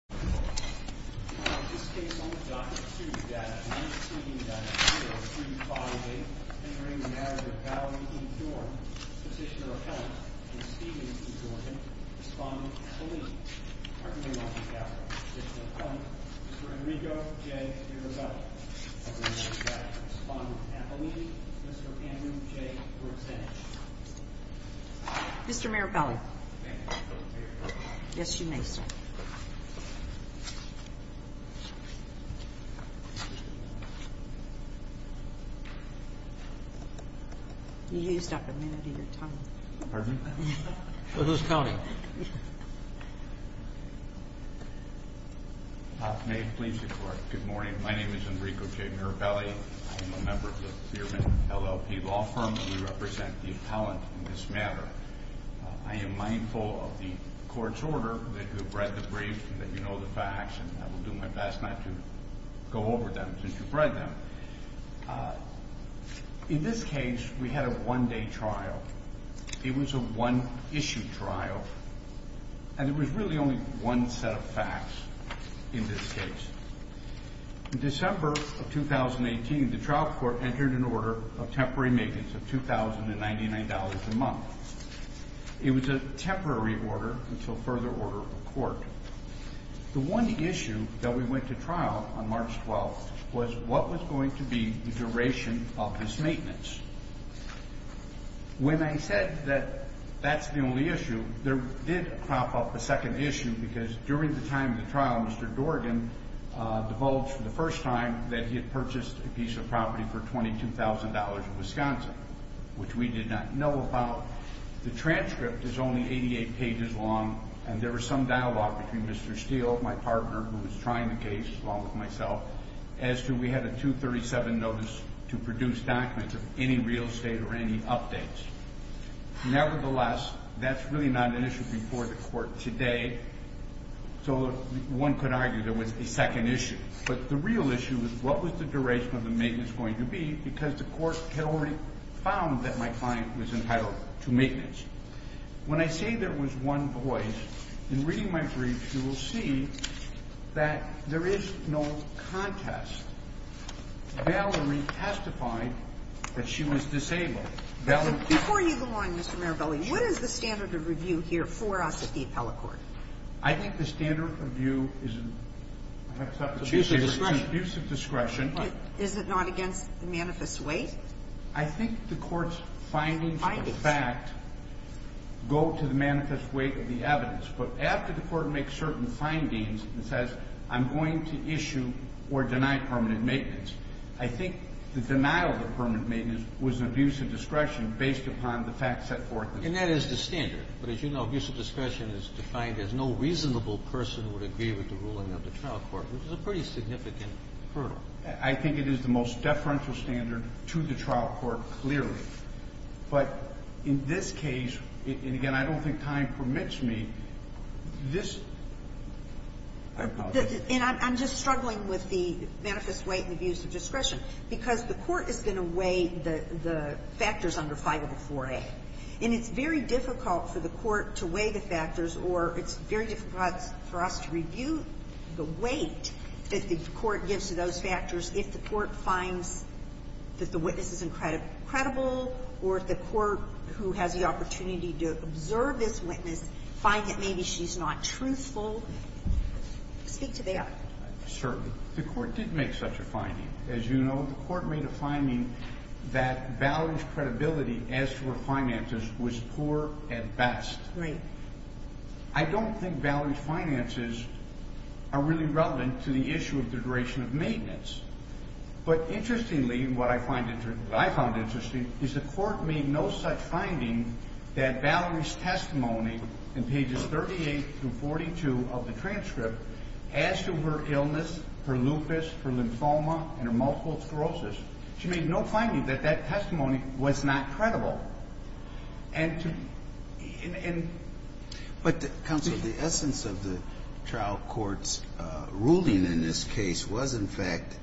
and Stevenson Jordan responded to Appeline. Attorney General Gavin, Petitioner Appellant, Mr. Enrico J. Irabelli. Mr. Amir J. were abstained. Mr. Mayor Cali. Thank you. Thank you. Mr. Mayor Callahan. Thank you. Mr. Mayor Callahan. Thank you. You used up a minute of your time. Pardon me? For whose county? May it please the court. Good morning. My name is Enrico J. Irabelli. I am a member of the Thurman LLP law firm. We represent the appellant in this matter. I am mindful of the court's order that you have read the brief and that you know the facts and I will do my best not to go over them since you've read them. In this case, we had a one-day trial. It was a one-issue trial. And there was really only one set of facts in this case. In December of 2018, the trial court entered an order of temporary maintenance of $2,099 a month. It was a temporary order until further order of the court. The one issue that we went to trial on March 12th was what was going to be the duration of this maintenance. When I said that that's the only issue, there did crop up a second issue because during the time of the trial, Mr. Dorgan divulged for the first time that he had purchased a piece of property for $22,000 in Wisconsin, which we did not know about. The transcript is only 88 pages long and there was some dialogue between Mr. Steele, my partner who was trying the case along with myself as to we had a 237 notice to produce documents of any real estate or any updates. Nevertheless, that's really not an issue before the court today, so one could argue there was a second issue, but the real issue was what was the duration of the maintenance going to be because the court had already found that my client was entitled to maintenance. When I say there was one voice, in reading my brief, you will see that there is no contest. Valerie testified that she was disabled. Before you go on, Mr. Mirabelli, what is the standard of review here for us at the appellate court? I think the standard of review is an abuse of discretion. Is it not against the manifest weight? I think the court's findings of the fact go to the manifest weight of the evidence, but after the court makes certain findings and says I'm going to issue or deny permanent maintenance, I think the denial of permanent maintenance was an abuse of discretion based upon the facts set forth. And that is the standard, but as you know, abuse of discretion is defined as no reasonable person would agree with the ruling of the trial court, which is a pretty significant hurdle. I think it is the most deferential standard to the trial court, clearly. But in this case, and again, I don't think time permits me, this I apologize. And I'm just struggling with the manifest weight and abuse of discretion because the court is going to weigh the factors under 504A. And it's very difficult for the court to weigh the factors or it's very difficult for us to review the weight that the court gives to those factors if the court finds that the witness is incredible or if the court who has the opportunity to observe this witness find that maybe she's not truthful. Speak to that. Certainly. The court did make such a finding. As you know, the court made a finding that to her finances was poor at best. Right. I don't think Valerie's finances are really relevant to the issue of the duration of maintenance. But interestingly, what I found interesting is the court made no such finding that Valerie's testimony in pages 38 through 42 of the transcript as to her illness, her lupus, her lymphoma, and her multiple sclerosis. She made no finding that that testimony was not credible. And But Counsel, the essence of the trial court's ruling in this case was in fact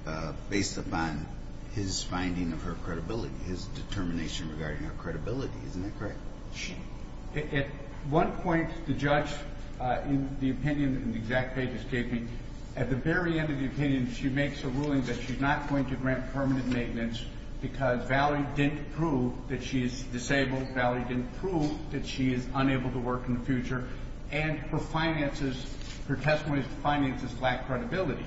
based upon his finding of her credibility, his determination regarding her credibility. Isn't that correct? At one point, the judge in the opinion that the exact pages gave me, at the very end of the opinion, she makes a ruling that she's not going to grant permanent maintenance because Valerie didn't prove that she is disabled. Valerie didn't prove that she is unable to work in the future. And her finances, her testimony's finances lack credibility.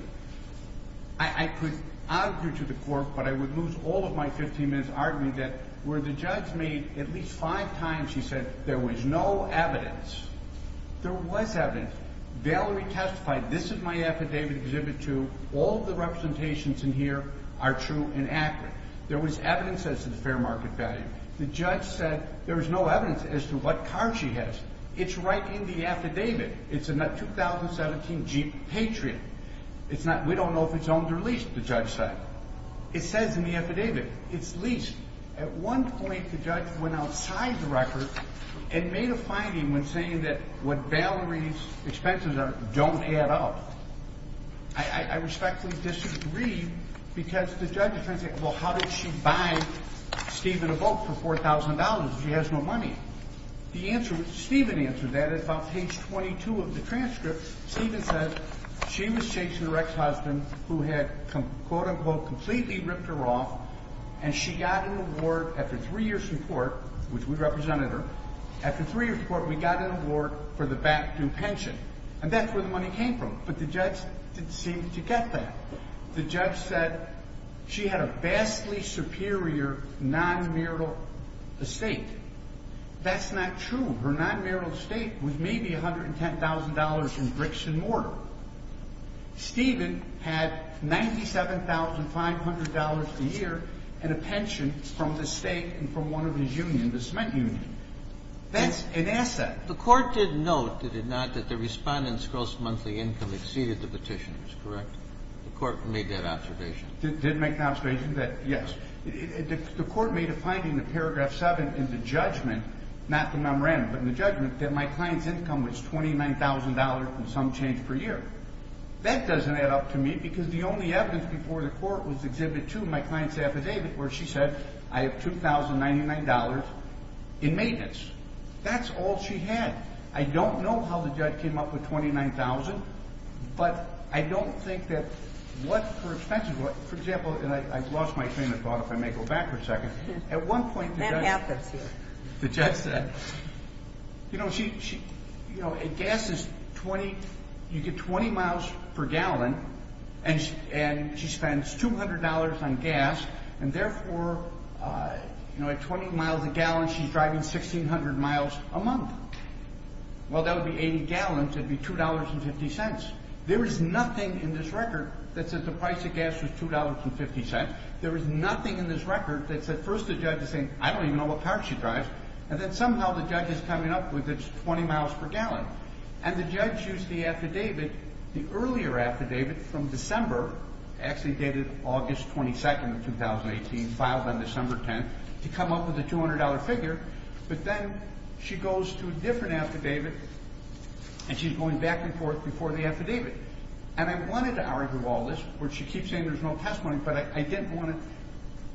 I could argue to the court, but I would lose all of my 15 minutes arguing that where the judge made at least five times, she said, there was no evidence. There was evidence. Valerie testified, this is my affidavit Exhibit 2. All the representations in here are true and accurate. There was evidence as to the fair market value. The judge said there was no evidence as to what car she has. It's right in the affidavit. It's a 2017 Jeep Patriot. We don't know if it's owned or leased, the judge said. It says in the affidavit it's leased. At one point, the judge went outside the record and made a finding when saying that what Valerie's expenses are don't add up. I respectfully disagree because the judge is trying to say, well, how did she buy Stephen a boat for $4,000 if she has no money? Stephen answered that at about page 22 of the transcript. Stephen said she was chasing her ex-husband who had quote unquote completely ripped her off and she got an award after three years in court, which we represented her, after three years in court we got an award for the back-due pension. And that's where the money came from. But the judge didn't seem to get that. The judge said that she had a vastly superior non-marital estate. That's not true. Her non-marital estate was maybe $110,000 in bricks and mortar. Stephen had $97,500 a year and a pension from the state and from one of his unions, the cement union. That's an asset. The court did note, did it not, that the Respondent's gross monthly income exceeded the petitioner's, correct? The court made that observation. Did make that observation, yes. The court made a finding in paragraph 7 in the judgment, not the memorandum, but in the judgment, that my client's income was $29,000 and some change per year. That doesn't add up to me because the only evidence before the court was Exhibit 2, my client's affidavit, where she said I have $2,099 in maintenance. That's all she had. I don't know how the judge came up with $29,000 but I don't think that what her expenses were, for example, and I lost my train of thought if I may go back for a second. That happens here. The judge said, you know, you get 20 miles per gallon and she spends $200 on gas and therefore at 20 miles a gallon she's driving 1,600 miles a month. Well, that would be 80 gallons, it would be $2.50. There is nothing in this record that says the price of gas was $2.50. There is nothing in this record that says, first the judge is saying, I don't even know what car she drives, and then somehow the judge is coming up with 20 miles per gallon. And the judge used the affidavit, the earlier affidavit from December, actually dated August 22nd of 2018, filed on December 10th, to come up with a $200 figure but then she goes to a different affidavit and she's going back and forth before the affidavit. And I wanted to argue all this, where she keeps saying there's no testimony but I didn't want to,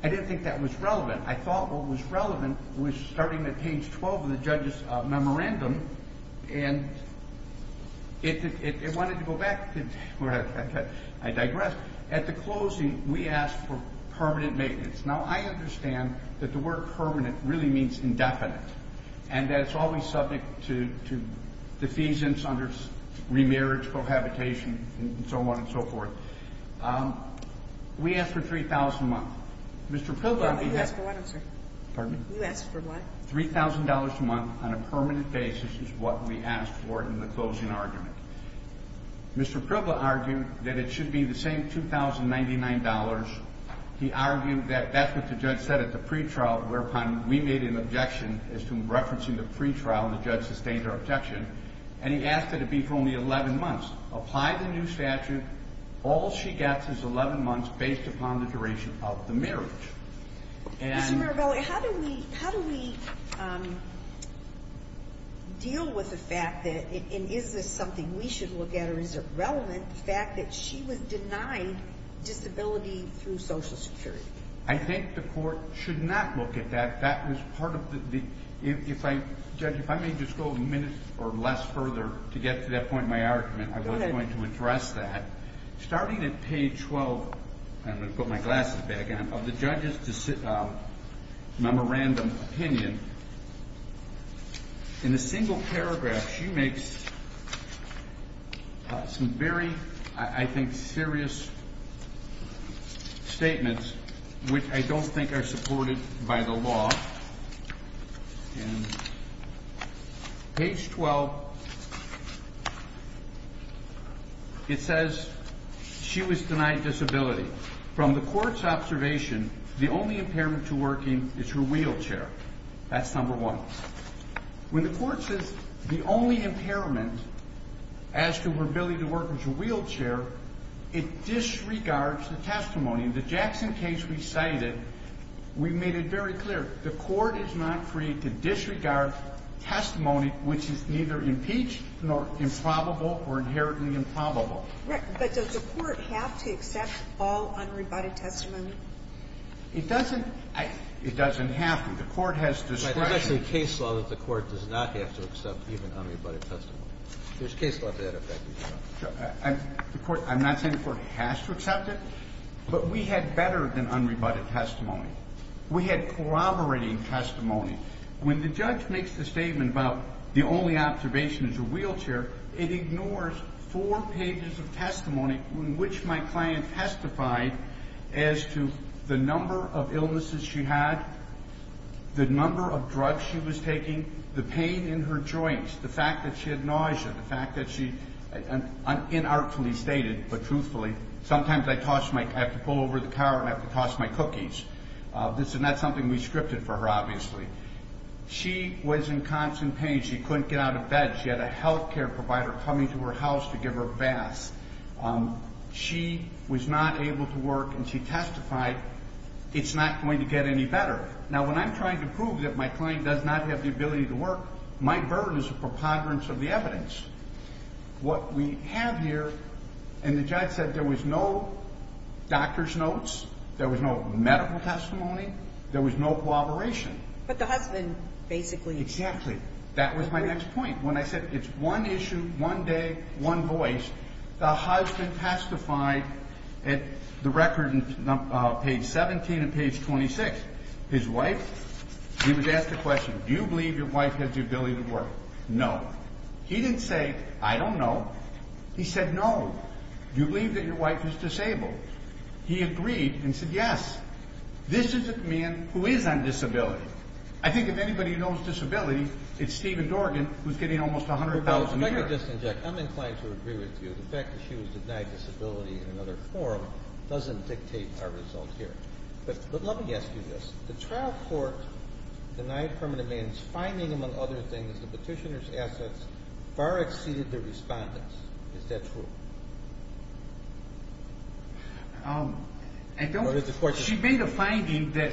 I didn't think that was relevant. I thought what was relevant was starting at page 12 of the judge's memorandum and it wanted to go back, I digress, at the closing we asked for permanent maintenance. Now I understand that the word permanent really means indefinite, and that it's always subject to defeasance under remarriage, prohibitation, and so on and so forth. We asked for $3,000 a month. Mr. Pribla, $3,000 a month on a permanent basis is what we asked for in the closing argument. Mr. Pribla argued that it should be the same $2,099. He argued that that's what the judge said at the pre-trial whereupon we made an objection as to referencing the pre-trial and the judge sustained our objection and he asked that it be for only 11 months. Apply the new statute, all she gets is 11 months based upon the duration of the marriage. Mr. Maragalli, how do we deal with the fact that, and is this something we should look at or is it relevant the fact that she was denied disability through Social Security? I think the court should not look at that. That was part of the, if I, Judge, if I may just go a minute or less further to get to that point in my argument, I was going to address that. Starting at page 12, I'm going to put my glasses back on, of the judge's memorandum opinion, in a single paragraph she makes some very, I think, serious statements which I don't think are supported by the law. Page 12, it says she was denied disability. From the court's observation, the only impairment to working is her wheelchair. That's number one. When the court says the only impairment as to her ability to work is her wheelchair, it disregards the testimony. In the Jackson case we cited, we made it very clear. The court is not free to disregard testimony which is neither impeached nor improbable or inherently improbable. But does the court have to accept all unrebutted testimony? It doesn't. It doesn't have to. The court has discretion. But that's a case law that the court does not have to accept even unrebutted testimony. There's case law that effect it. I'm not saying the court has to accept it, but we had better than unrebutted testimony. We had corroborating testimony. When the judge makes the statement about the only observation is her wheelchair, it ignores four pages of testimony in which my client testified as to the number of illnesses she had, the number of drugs she was taking, the pain in her joints, the fact that she had nausea, the fact that she inartfully stated, but truthfully, sometimes I have to pull over the car and have to toss my cookies. That's something we scripted for her, obviously. She was in constant pain. She couldn't get out of bed. She had a health care provider coming to her house to give her baths. She was not able to work and she testified it's not going to get any better. Now when I'm trying to prove that my client does not have the ability to work, my burden is a preponderance of the evidence. What we have here, and the judge said there was no doctor's notes, there was no medical testimony, there was no corroboration. But the husband basically... Exactly. That was my next point. When I said it's one issue, one day, one voice, the husband testified at the record page 17 and page 26. His wife, he was asked the question, do you believe your wife has the ability to work? No. He didn't say, I don't know. He said, no. Do you believe that your wife is disabled? He agreed and said yes. This is a man who is on disability. I think if anybody knows disability, it's Stephen Dorgan who's getting almost $100,000 a year. Now you're disinjecting. I'm inclined to agree with you. The fact that she was denied disability in another form doesn't dictate our result here. But let me ask you this. The trial court denied permanent man's finding, among other things, the petitioner's assets far exceeded the respondent's. Is that true? She made a finding that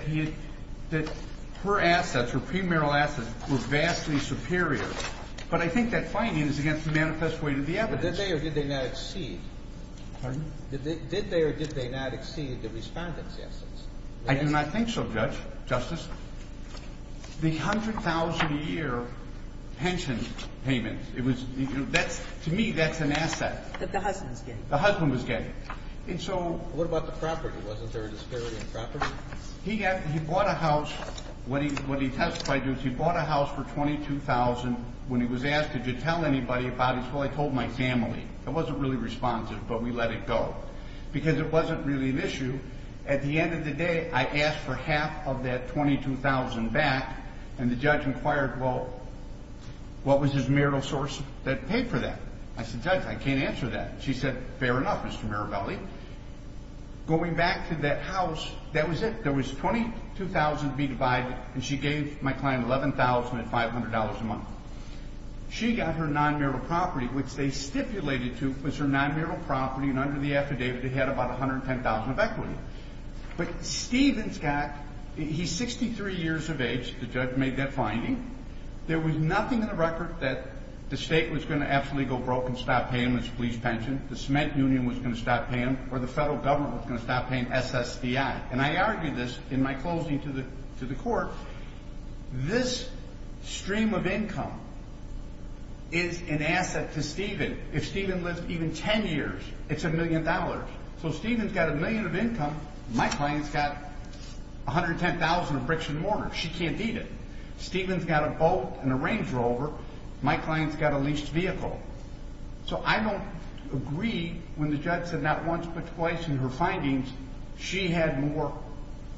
her assets, her premarital assets were vastly superior. But I think that finding is against the manifest weight of the evidence. Did they or did they not exceed? Pardon? Did they or did they not exceed the respondent's assets? I do not think so, Judge. Justice, the $100,000 a year pension payment, to me, that's an asset. That the husband's getting. The husband was getting. And so... What about the property? Wasn't there a disparity in property? He bought a house. What he testified to is he bought a house for $22,000. When he was asked, did you tell anybody about it? He said, well, I told my family. I wasn't really responsive, but we let it go. Because it wasn't really an issue. At the end of the day, I asked for half of that $22,000 back, and the judge inquired, well, what was his marital source that paid for that? I said, Judge, I can't answer that. She said, fair enough, Mr. Mirabelli. Going back to that house, that was it. There was $22,000 to be divided, and she gave my client $11,500 a month. She got her non-marital property, which they had about $110,000 of equity. But Stephen's got... He's 63 years of age. The judge made that finding. There was nothing in the record that the state was going to absolutely go broke and stop paying his police pension, the cement union was going to stop paying, or the federal government was going to stop paying SSDI. And I argue this in my closing to the court. This stream of income is an asset to Stephen. If Stephen lived even 10 years, it's a million dollars. So Stephen's got a million of income. My client's got $110,000 of bricks and mortar. She can't beat it. Stephen's got a boat and a Range Rover. My client's got a leased vehicle. So I don't agree when the judge said not once but twice in her findings, she had more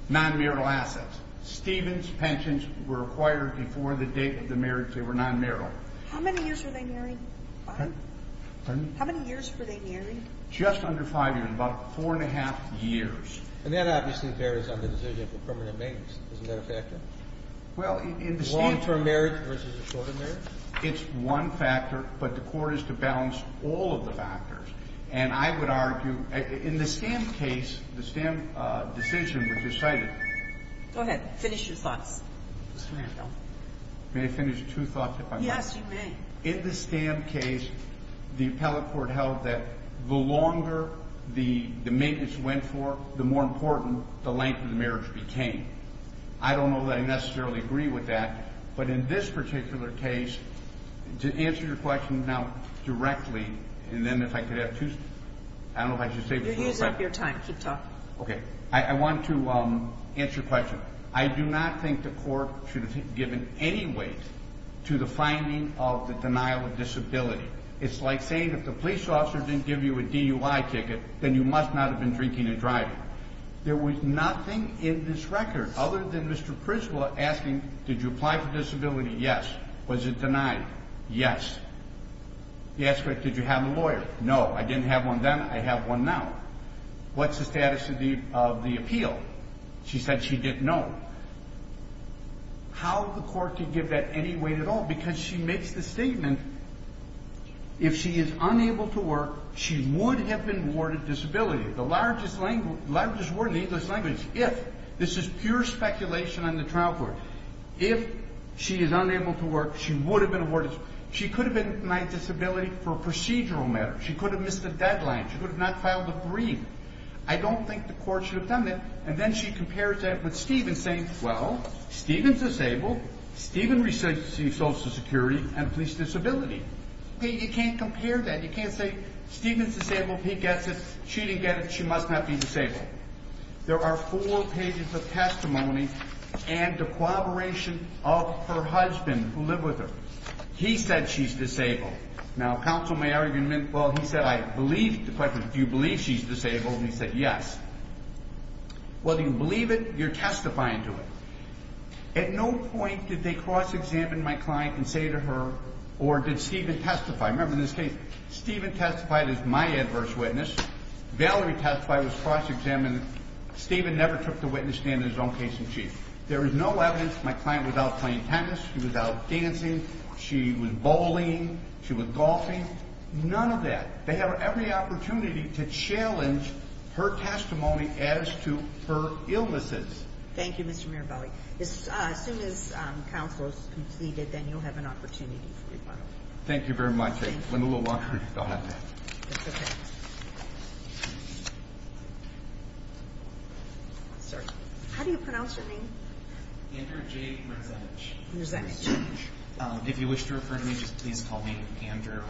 non-marital assets. Stephen's pensions were acquired before the date of the marriage. They were non-marital. How many years were they married? Pardon? Pardon? How many years were they married? Just under five years. About four and a half years. And that obviously varies on the decision for permanent maintenance. Isn't that a factor? Well, in the stand... A long-term marriage versus a short-term marriage? It's one factor, but the court is to balance all of the factors. And I would argue, in the Stamp case, the Stamp decision was decided... Go ahead. Finish your thoughts. May I finish two thoughts if I may? Yes, you may. In the Stamp case, the appellate court held that the longer the maintenance went for, the more important the length of the marriage became. I don't know that I necessarily agree with that, but in this particular case, to answer your question now directly, and then if I could have two... I don't know if I should say... You're using up your time. Keep talking. I want to answer your question. I do not think the court should have given any weight to the finding of the denial of disability. It's like saying, if the police officer didn't give you a DUI ticket, then you must not have been drinking and driving. There was nothing in this record, other than Mr. Prisla asking, did you apply for disability? Yes. Was it denied? Yes. Did you have a lawyer? No. I didn't have one then. I have one now. What's the status of the appeal? She said she didn't know. How the court could give that any weight at all? Because she makes the statement, if she is unable to work, she would have been awarded disability. The largest word in English language, if... This is pure speculation on the trial court. If she is unable to work, she would have been awarded... She could have been denied disability for a procedural matter. She could have missed a deadline. She could have not filed a brief. I don't think the court should have done that. And then she compares that with Stephen saying, well, Stephen's disabled. Stephen receives Social Security and police disability. You can't compare that. You can't say Stephen's disabled. He gets it. She didn't get it. She must not be disabled. There are four pages of testimony and corroboration of her husband who lived with her. He said she's disabled. Now, counsel may argue, well, he said, I believe the question, do you believe she's disabled? And he said, yes. Well, do you believe it? You're testifying to it. At no point did they cross-examine my client and say to her, or did Stephen testify? Remember in this case, Stephen testified as my adverse witness. Valerie testified was cross-examined. Stephen never took the witness stand in his own case in chief. There is no evidence my client was out playing tennis. She was out dancing. She was bowling. She was golfing. None of that. They have every opportunity to challenge her testimony as to her illnesses. Thank you, Mr. Mirabelli. As soon as counsel is completed, then you'll have an opportunity for rebuttal. Thank you very much. I went a little longer. Go ahead. How do you pronounce your name? Andrew J. Resenich. If you wish to refer to me, just please call me Andrew.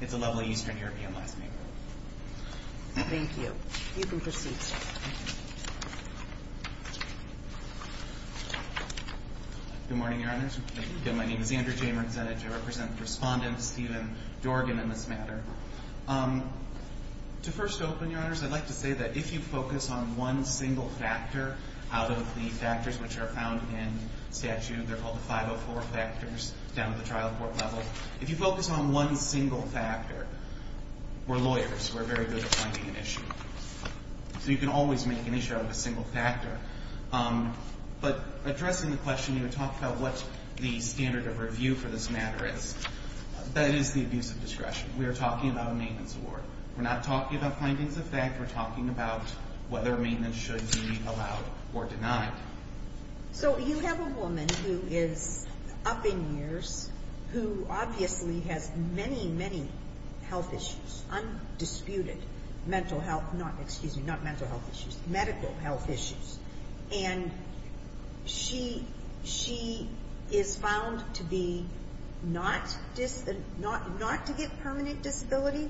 It's a lovely Eastern European last name. Thank you. You can proceed. Good morning, Your Honors. My name is Andrew J. Resenich. I represent Respondent Stephen Dorgan in this matter. To first open, Your Honors, I'd like to say that if you focus on one single factor out of the factors which are found in statute, they're called the 504 factors down at the trial court level. If you focus on one single factor, we're lawyers. We're very good at finding an issue. So you can always make an issue out of a single factor. But addressing the question, you talk about what the standard of review for this matter is. That is the abuse of discretion. We are talking about a maintenance award. We're not talking about findings of fact. We're talking about whether maintenance should be allowed or denied. So you have a woman who is up in years who obviously has many, many health issues. Undisputed. Mental health. Not, excuse me, not mental health issues. Medical health issues. And she is found to be not to get permanent disability.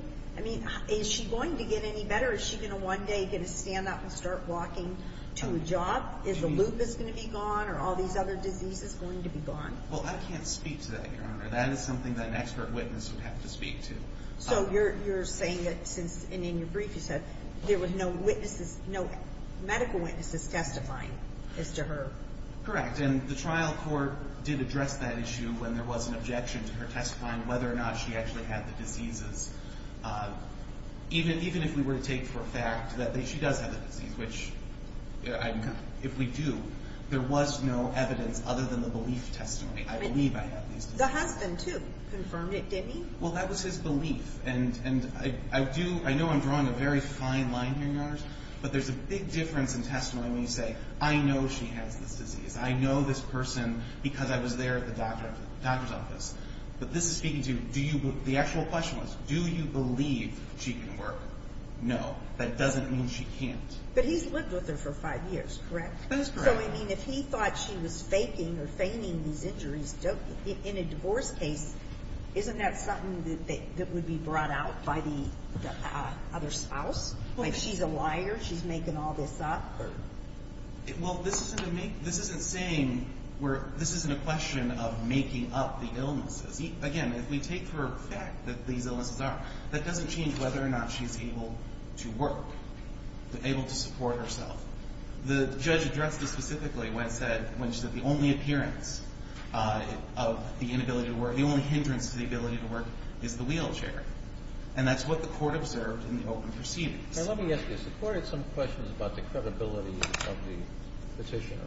Is she going to get any better? Is she going to one day get a stand up and start walking to a job? Is the lupus going to be gone? Are all these other diseases going to be gone? Well, I can't speak to that, Your Honor. That is something that an expert witness would have to speak to. So you're saying that since, and in your brief you said, there were no witnesses, no medical witnesses testifying as to her. Correct. And the trial court did address that issue when there was an objection to her testifying whether or not she actually had the diseases. Even if we were to take for a fact that she does have the disease, which if we do, there was no evidence other than the belief testimony. I believe I have these diseases. The husband, too, confirmed it, didn't he? Well, that was his belief. And I do, I know I'm drawing a very fine line here, Your Honors, but there's a big difference in testimony when you say, I know she has this disease. I know this person because I was there at the doctor's office. But this is speaking to, do you, the actual question was do you believe she can work? No. That doesn't mean she can't. But he's lived with her for five years, correct? That is correct. So, I mean, if he thought she was faking or feigning these injuries, in a divorce case, isn't that something that would be brought out by the other spouse? Like, she's a liar? She's making all this up? Well, this isn't saying this isn't a question of making up the illnesses. Again, if we take for a fact that these illnesses are, that doesn't change whether or not she's able to work, able to support herself. The judge addressed this specifically when she said the only appearance of the inability to work, the only hindrance to the ability to work is the wheelchair. And that's what the court observed in the open proceedings. Let me ask you, the court had some questions about the credibility of the petitioner.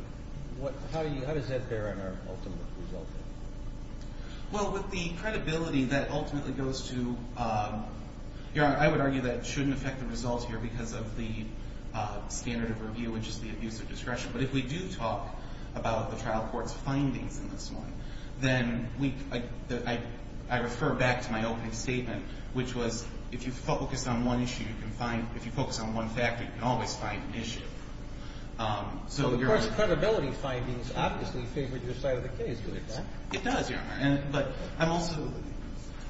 How does that bear on our ultimate result? Well, with the credibility that ultimately goes to Your Honor, I would argue that it shouldn't affect the results here because of the standard of review, which is the abuse of discretion. But if we do talk about the trial court's findings in this one, then we I refer back to my opening statement, which was if you focus on one issue, you can find if you focus on one factor, you can always find an issue. So the court's credibility findings obviously favored your side of the case, did it not? It does, Your Honor. But I'm also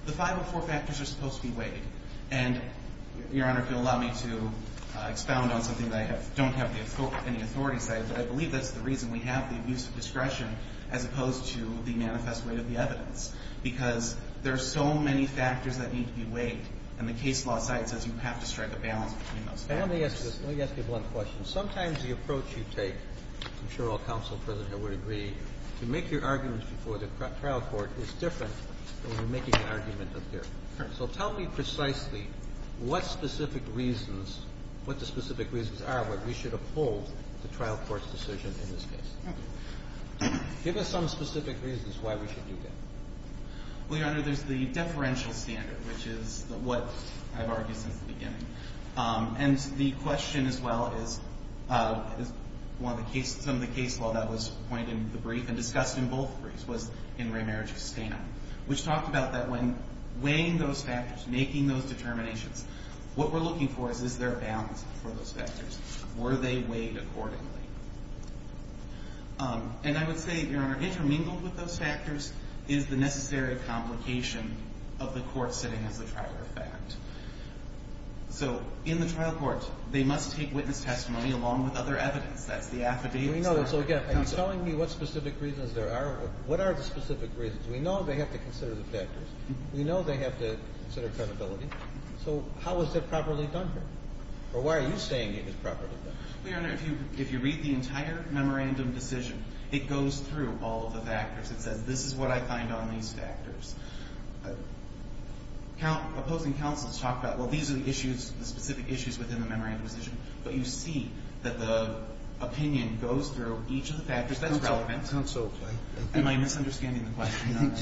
The 504 factors are supposed to be weighed. And Your Honor, if you'll allow me to expound on something that I don't have any authority to say, but I believe that's the reason we have the abuse of discretion as opposed to the manifest weight of the evidence because there are so many factors that need to be weighed and the case law side says you have to strike a balance between those factors. Let me ask you one question. Sometimes the approach you take I'm sure all counsel and President Hill would agree to make your arguments before the trial court is different than making an argument up here. So tell me precisely what specific reasons, what the specific reasons are where we should uphold the trial court's decision in this case. Give us some specific reasons why we should do that. Well, Your Honor, there's the deferential standard, which is what I've argued since the beginning. And the question as well is one of the cases some of the case law that was pointed in the brief was in Raymarriage of Stanton which talked about that when weighing those factors, making those determinations what we're looking for is, is there a balance for those factors? Were they weighed accordingly? And I would say, Your Honor, intermingled with those factors is the necessary complication of the court setting as a trial effect. So in the trial court, they must take witness testimony along with other evidence. That's the affidavit. So again, are you telling me what specific reasons there are? What are the specific reasons? We know they have to consider the factors. We know they have to consider credibility. So how is that properly done here? Or why are you saying it is properly done? Well, Your Honor, if you read the entire memorandum decision, it goes through all of the factors. It says, this is what I find on these factors. Opposing counsels talk about, well, these are the issues, the specific issues within the memorandum decision. But you see that the factors, that's relevant. Am I misunderstanding the question, Your Honor?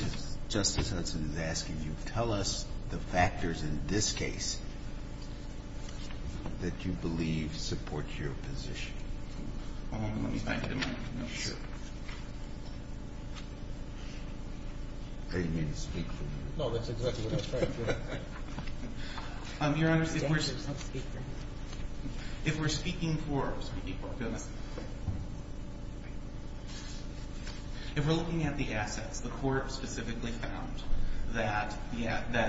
Justice Hudson is asking you tell us the factors in this case that you believe support your position. Let me find the mic. Are you going to speak for me? No, that's exactly what I was trying to do. Your Honor, if we're speaking for the Court, if we're looking at the assets, the Court specifically found that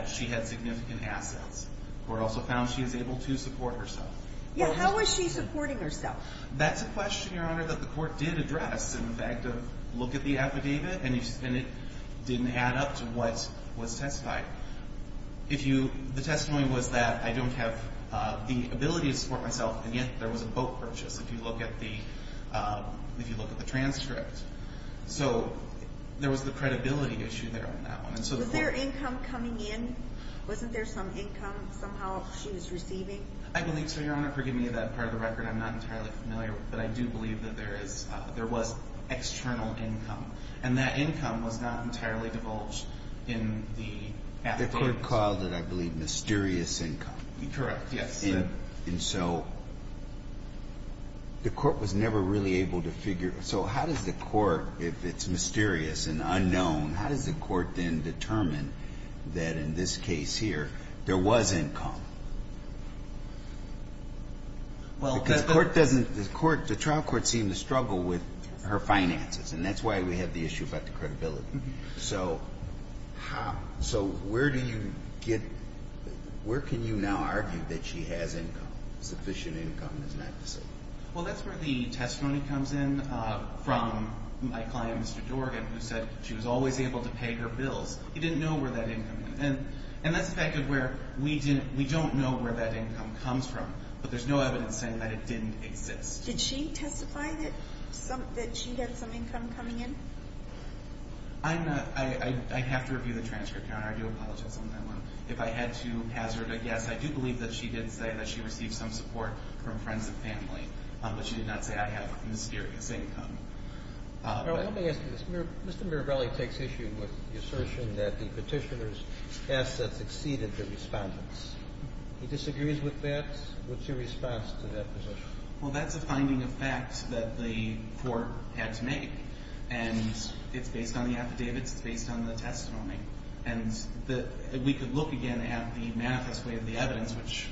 she had significant assets. The Court also found she was able to support herself. How was she supporting herself? That's a question, Your Honor, that the Court did address in the fact of look at the affidavit and it didn't add up to what was testified. The testimony was that I don't have the actual purchase if you look at the transcript. So, there was the credibility issue there on that one. Was there income coming in? Wasn't there some income somehow she was receiving? I believe so, Your Honor. Forgive me for that part of the record. I'm not entirely familiar. But I do believe that there was external income. And that income was not entirely divulged in the affidavit. The Court called it, I believe, mysterious income. Correct, yes. And so, the Court was never really able to figure. So, how does the Court, if it's mysterious and unknown, how does the Court then determine that in this case here, there was income? Because the Court doesn't seem to struggle with her finances. And that's why we have the issue about the credibility. So, where do you get, where can you now argue that she has income, sufficient income is not the same? Well, that's where the testimony comes in from my client, Mr. Jorgen, who said she was always able to pay her bills. He didn't know where that income was. And that's the fact of where we don't know where that income comes from. But there's no evidence saying that it didn't exist. Did she testify that she had some income coming in? I have to review the transcript, Your Honor. I do apologize on that one. If I had to hazard a guess, I do believe that she did say that she received some support from friends and family. But she did not say, I have mysterious income. Let me ask you this. Mr. Mirabelli takes issue with the assertion that the petitioner's assets exceeded the respondent's. He disagrees with that? What's your response to that position? Well, that's a finding of fact that the Court had to make. And it's based on the affidavits. It's based on the testimony. And we could look again at the manifest way of the evidence, which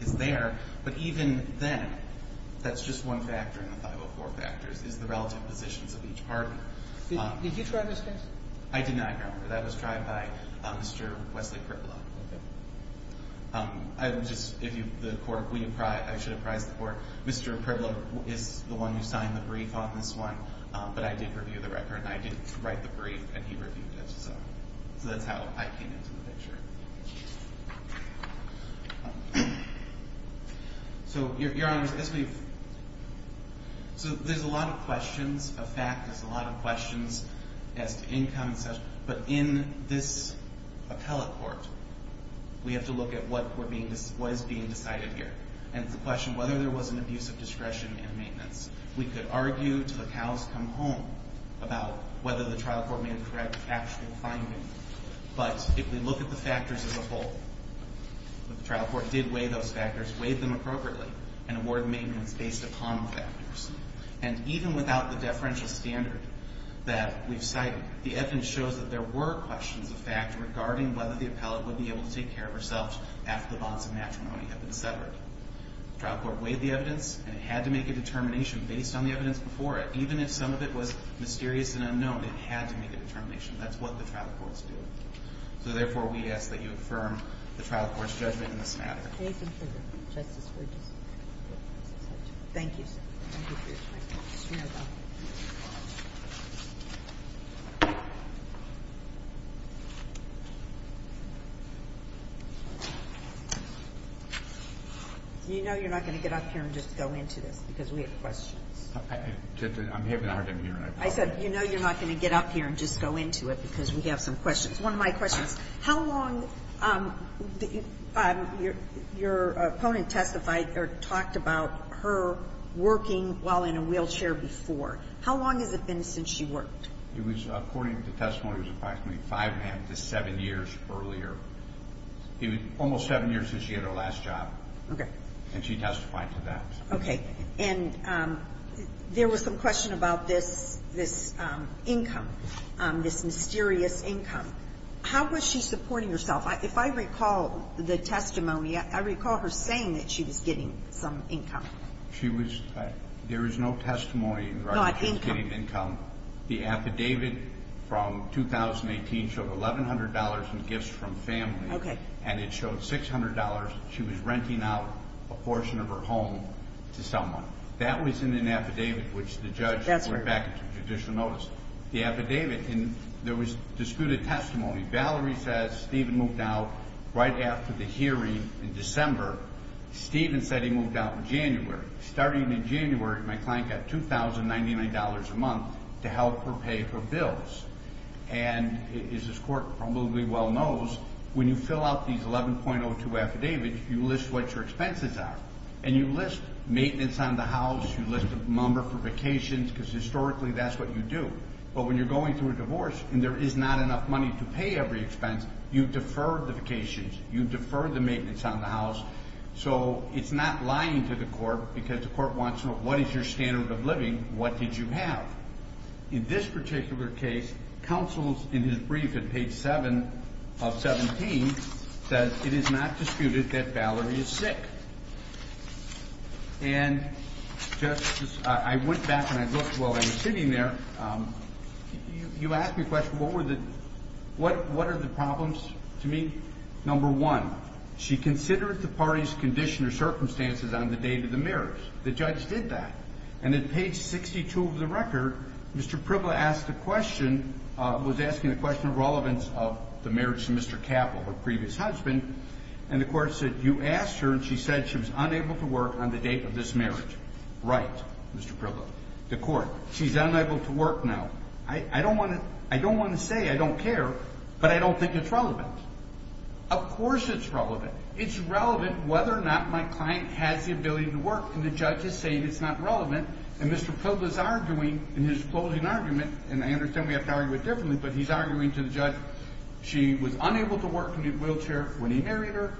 is there. But even then, that's just one factor in the 504 factors, is the relative positions of each partner. Did you try this case? I did not, Your Honor. That was tried by Mr. Wesley Priblo. I would just, if the Court, I should have prized the Court. Mr. Priblo is the one who signed the brief on this one. But I did write the brief and he reviewed it. So that's how I came into the picture. So, Your Honor, as we've So there's a lot of questions of fact. There's a lot of questions as to income and such. But in this appellate court, we have to look at what is being decided here. And it's a question of whether there was an abuse of discretion in maintenance. We could argue till the cows come home about whether the trial court made a correct actual finding. But if we look at the factors as a whole, the trial court did weigh those factors, weighed them appropriately, and awarded maintenance based upon the factors. And even without the deferential standard that we've cited, the evidence shows that there were questions of fact regarding whether the appellate would be able to take care of herself after the bonds of matrimony had been severed. The trial court weighed the evidence and it had to make a determination based on the evidence before it. Even if some of it was mysterious and unknown, it had to make a determination. That's what the trial courts do. So, therefore, we ask that you affirm the trial court's judgment in this matter. Thank you. You know you're not going to get up here and just go into this because we have questions. I'm having a hard time hearing it. I said, you know you're not going to get up here and just go into it because we have some questions. One of my questions. How long did your opponent testified or talked about her working while in a wheelchair before? How long has it been since she worked? It was, according to testimony, approximately five and a half to seven years earlier. It was almost seven years since she had her last job. Okay. And she testified to that. Okay. And there was some question about this income, this mysterious income. How was she supporting herself? If I recall the testimony, I recall her saying that she was getting some income. There is no testimony in regard to her getting income. The affidavit from 2018 showed $1,100 in gifts from family. Okay. And it showed $600 she was renting out a portion of her home to someone. That was in an affidavit which the judge went back and took judicial notice. The affidavit, and there was disputed testimony. Valerie says Stephen moved out right after the hearing in December. Stephen said he moved out in January. Starting in January, my client got $2,099 a month to help her pay her bills. And as this court probably well knows, when you fill out these 11.02 affidavits, you list what your expenses are. And you list maintenance on the house. You list the number for vacations because historically that's what you do. But when you're going through a divorce and there is not enough money to pay every expense, you defer the vacations. You defer the maintenance on the house. So it's not lying to the court because the court wants to know what is your standard of living? What did you have? In this particular case, counsels in his brief at page 7 of 17 says it is not disputed that Valerie is sick. And I went back and I looked while I was sitting there. You asked me a question. What are the problems to me? Number one, she considered the party's condition or circumstances on the day of the marriage. The judge did that. And at page 62 of the record, Mr. Pribla asked a question, was asking a question of relevance of the marriage to Mr. Capple, her previous husband. And the court said you asked her and she said she was unable to work on the date of this marriage. Right, Mr. Pribla. The court. She's unable to work now. I don't want to say I don't care, but I don't think it's relevant. Of course it's relevant. It's relevant whether or not my client has the ability to work. And the judge is saying it's not relevant. And Mr. Pribla is arguing in his closing argument, and I understand we have to argue it differently, but he's arguing to the judge she was unable to work in a wheelchair when he married her.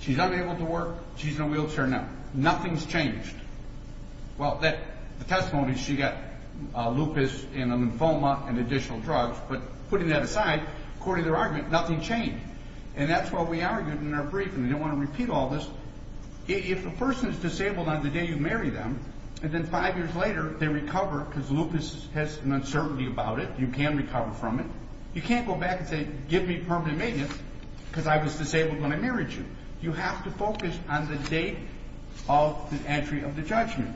She's unable to work. She's in a wheelchair now. Nothing's changed. Well, the testimony, she got lupus and lymphoma and additional drugs, but putting that aside, according to their argument, nothing changed. And that's what we argued in our brief, and I don't want to repeat all this. If a person is disabled on the day you marry them, and then five years later they recover because lupus has an uncertainty about it. You can recover from it. You can't go back and say, give me permanent maintenance because I was disabled when I married you. You have to focus on the date of the entry of the judgment.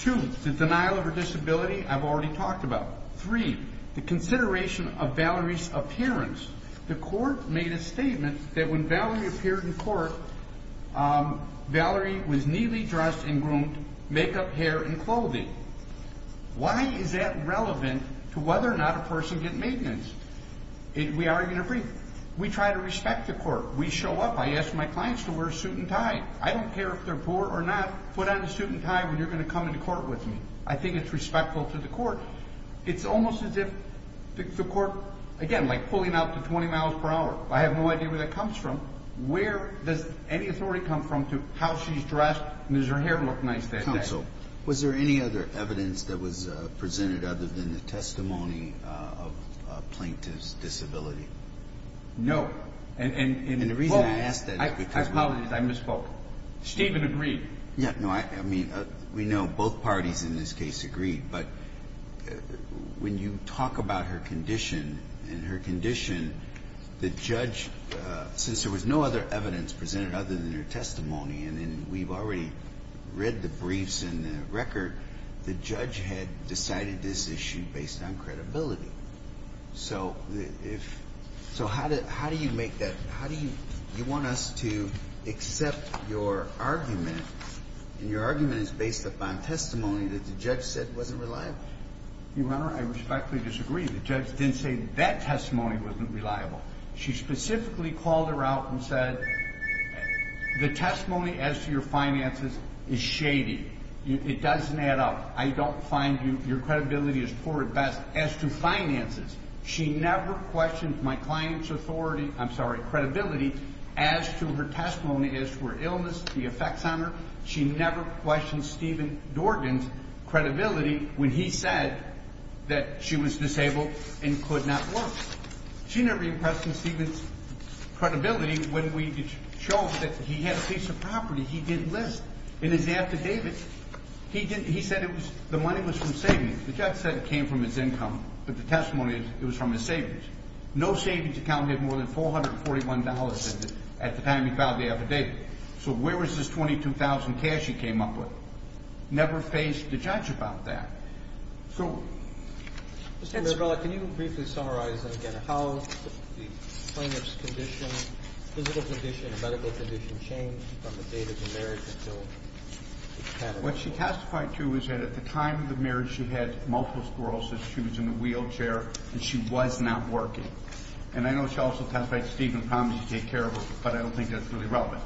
Two, the denial of her disability, I've already talked about. Three, the consideration of Valerie's appearance. The court made a statement that when Valerie appeared in court, Valerie was neatly dressed and groomed, makeup, hair, and clothing. Why is that relevant to whether or not a person get maintenance? We argue in our brief. We try to respect the court. We show up. I ask my clients to wear a suit and tie. I don't care if they're poor or not. Put on a suit and tie when you're going to come into court with me. I think it's respectful to the court. It's almost as if the court, again, like pulling out the 20 miles per hour. I have no idea where that any authority comes from to how she's dressed and does her hair look nice that day. Counsel, was there any other evidence that was presented other than the testimony of a plaintiff's disability? No. I apologize. I misspoke. Stephen agreed. We know both parties in this case agreed, but when you talk about her condition and her condition, the judge, since there was no other evidence presented other than her testimony, and we've already read the briefs and the record, the judge had decided this issue based on credibility. So, how do you make that? You want us to accept your argument, and your argument is based upon testimony that the judge said wasn't reliable. Your Honor, I respectfully disagree. The judge didn't say that testimony wasn't reliable. She specifically called her out and said, the testimony as to your finances is shady. It doesn't add up. I don't find you, your credibility is poor at best as to finances. She never questioned my client's authority, I'm sorry, credibility as to her testimony as to her illness, the effects on her. She never questioned Stephen Dorgan's credibility when he said that she was disabled and could not work. She never questioned Stephen's credibility when we showed that he had a piece of property he didn't list in his affidavit. He said the money was from savings. The judge said it came from his income, but the testimony is it was from his savings. No savings account had more than $441 at the time he filed the affidavit. So where was this $22,000 cash he came up with? Never faced the judge about that. So... Can you briefly summarize how the plaintiff's condition physical condition and medical condition changed from the date of the marriage until... What she testified to is that at the time of the marriage she had multiple sclerosis. She was in a wheelchair and she was not working. And I know she also testified that Stephen promised to take care of her but I don't think that's really relevant.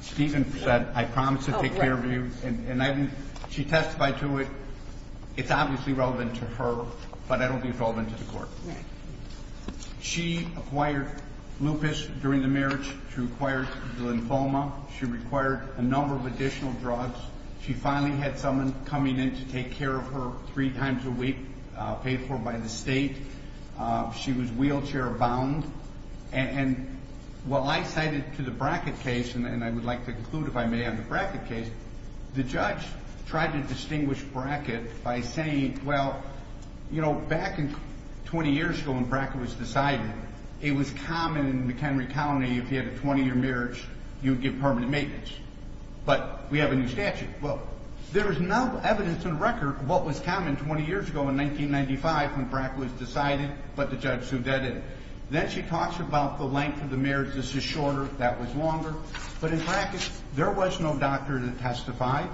Stephen said I promise to take care of you and she testified to it it's obviously relevant to her, but I don't think it's relevant to the court. She acquired lupus during the marriage. She acquired lymphoma. She required a number of additional drugs. She finally had someone coming in to take care of her three times a week, paid for by the state. She was wheelchair bound. And while I cited to the bracket case, and I would like to conclude if I may on the bracket case, the judge tried to distinguish bracket by saying, well you know, back in 20 years ago when bracket was decided it was common in McHenry County if you had a 20 year marriage you would get permanent maintenance. But we have a new statute. Well, there is no evidence on record what was common 20 years ago in 1995 when bracket was decided, but the judge sued that in. Then she talks about the length of the marriage. This is shorter. That was longer. But in bracket there was no doctor to testify.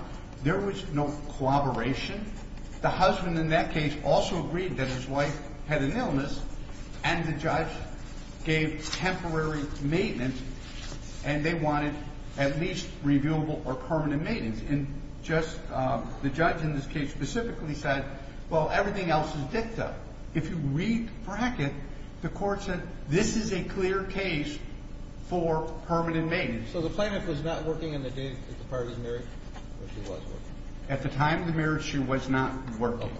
There was no collaboration. The husband in that case also agreed that his wife had an illness and the judge gave temporary maintenance and they wanted at least reviewable or permanent maintenance. And just the judge in this case specifically said well everything else is dicta. If you read bracket the court said this is a clear case for permanent maintenance. So the plaintiff was not working on the date that the party was married? At the time of the marriage she was not working.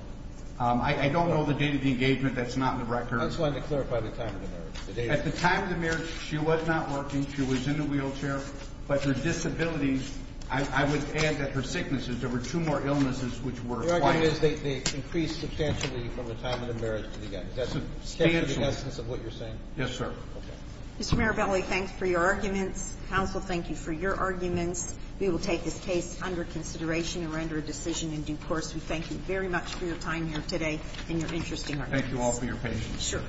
I don't know the date of the engagement. That's not on the record. I just wanted to clarify the time of the marriage. At the time of the marriage she was not working. She was in a wheelchair. But her disabilities, I would add that her sicknesses, there were two more illnesses which were acquired. The argument is they increased substantially from the time of the marriage to the end. Is that substantial? Yes, sir. Mr. Mirabelli, thanks for your arguments. Counsel, thank you for your arguments. We will take this case under consideration and render a decision in due course. We thank you very much for your time here today and your interesting arguments. Thank you all for your patience. Sure.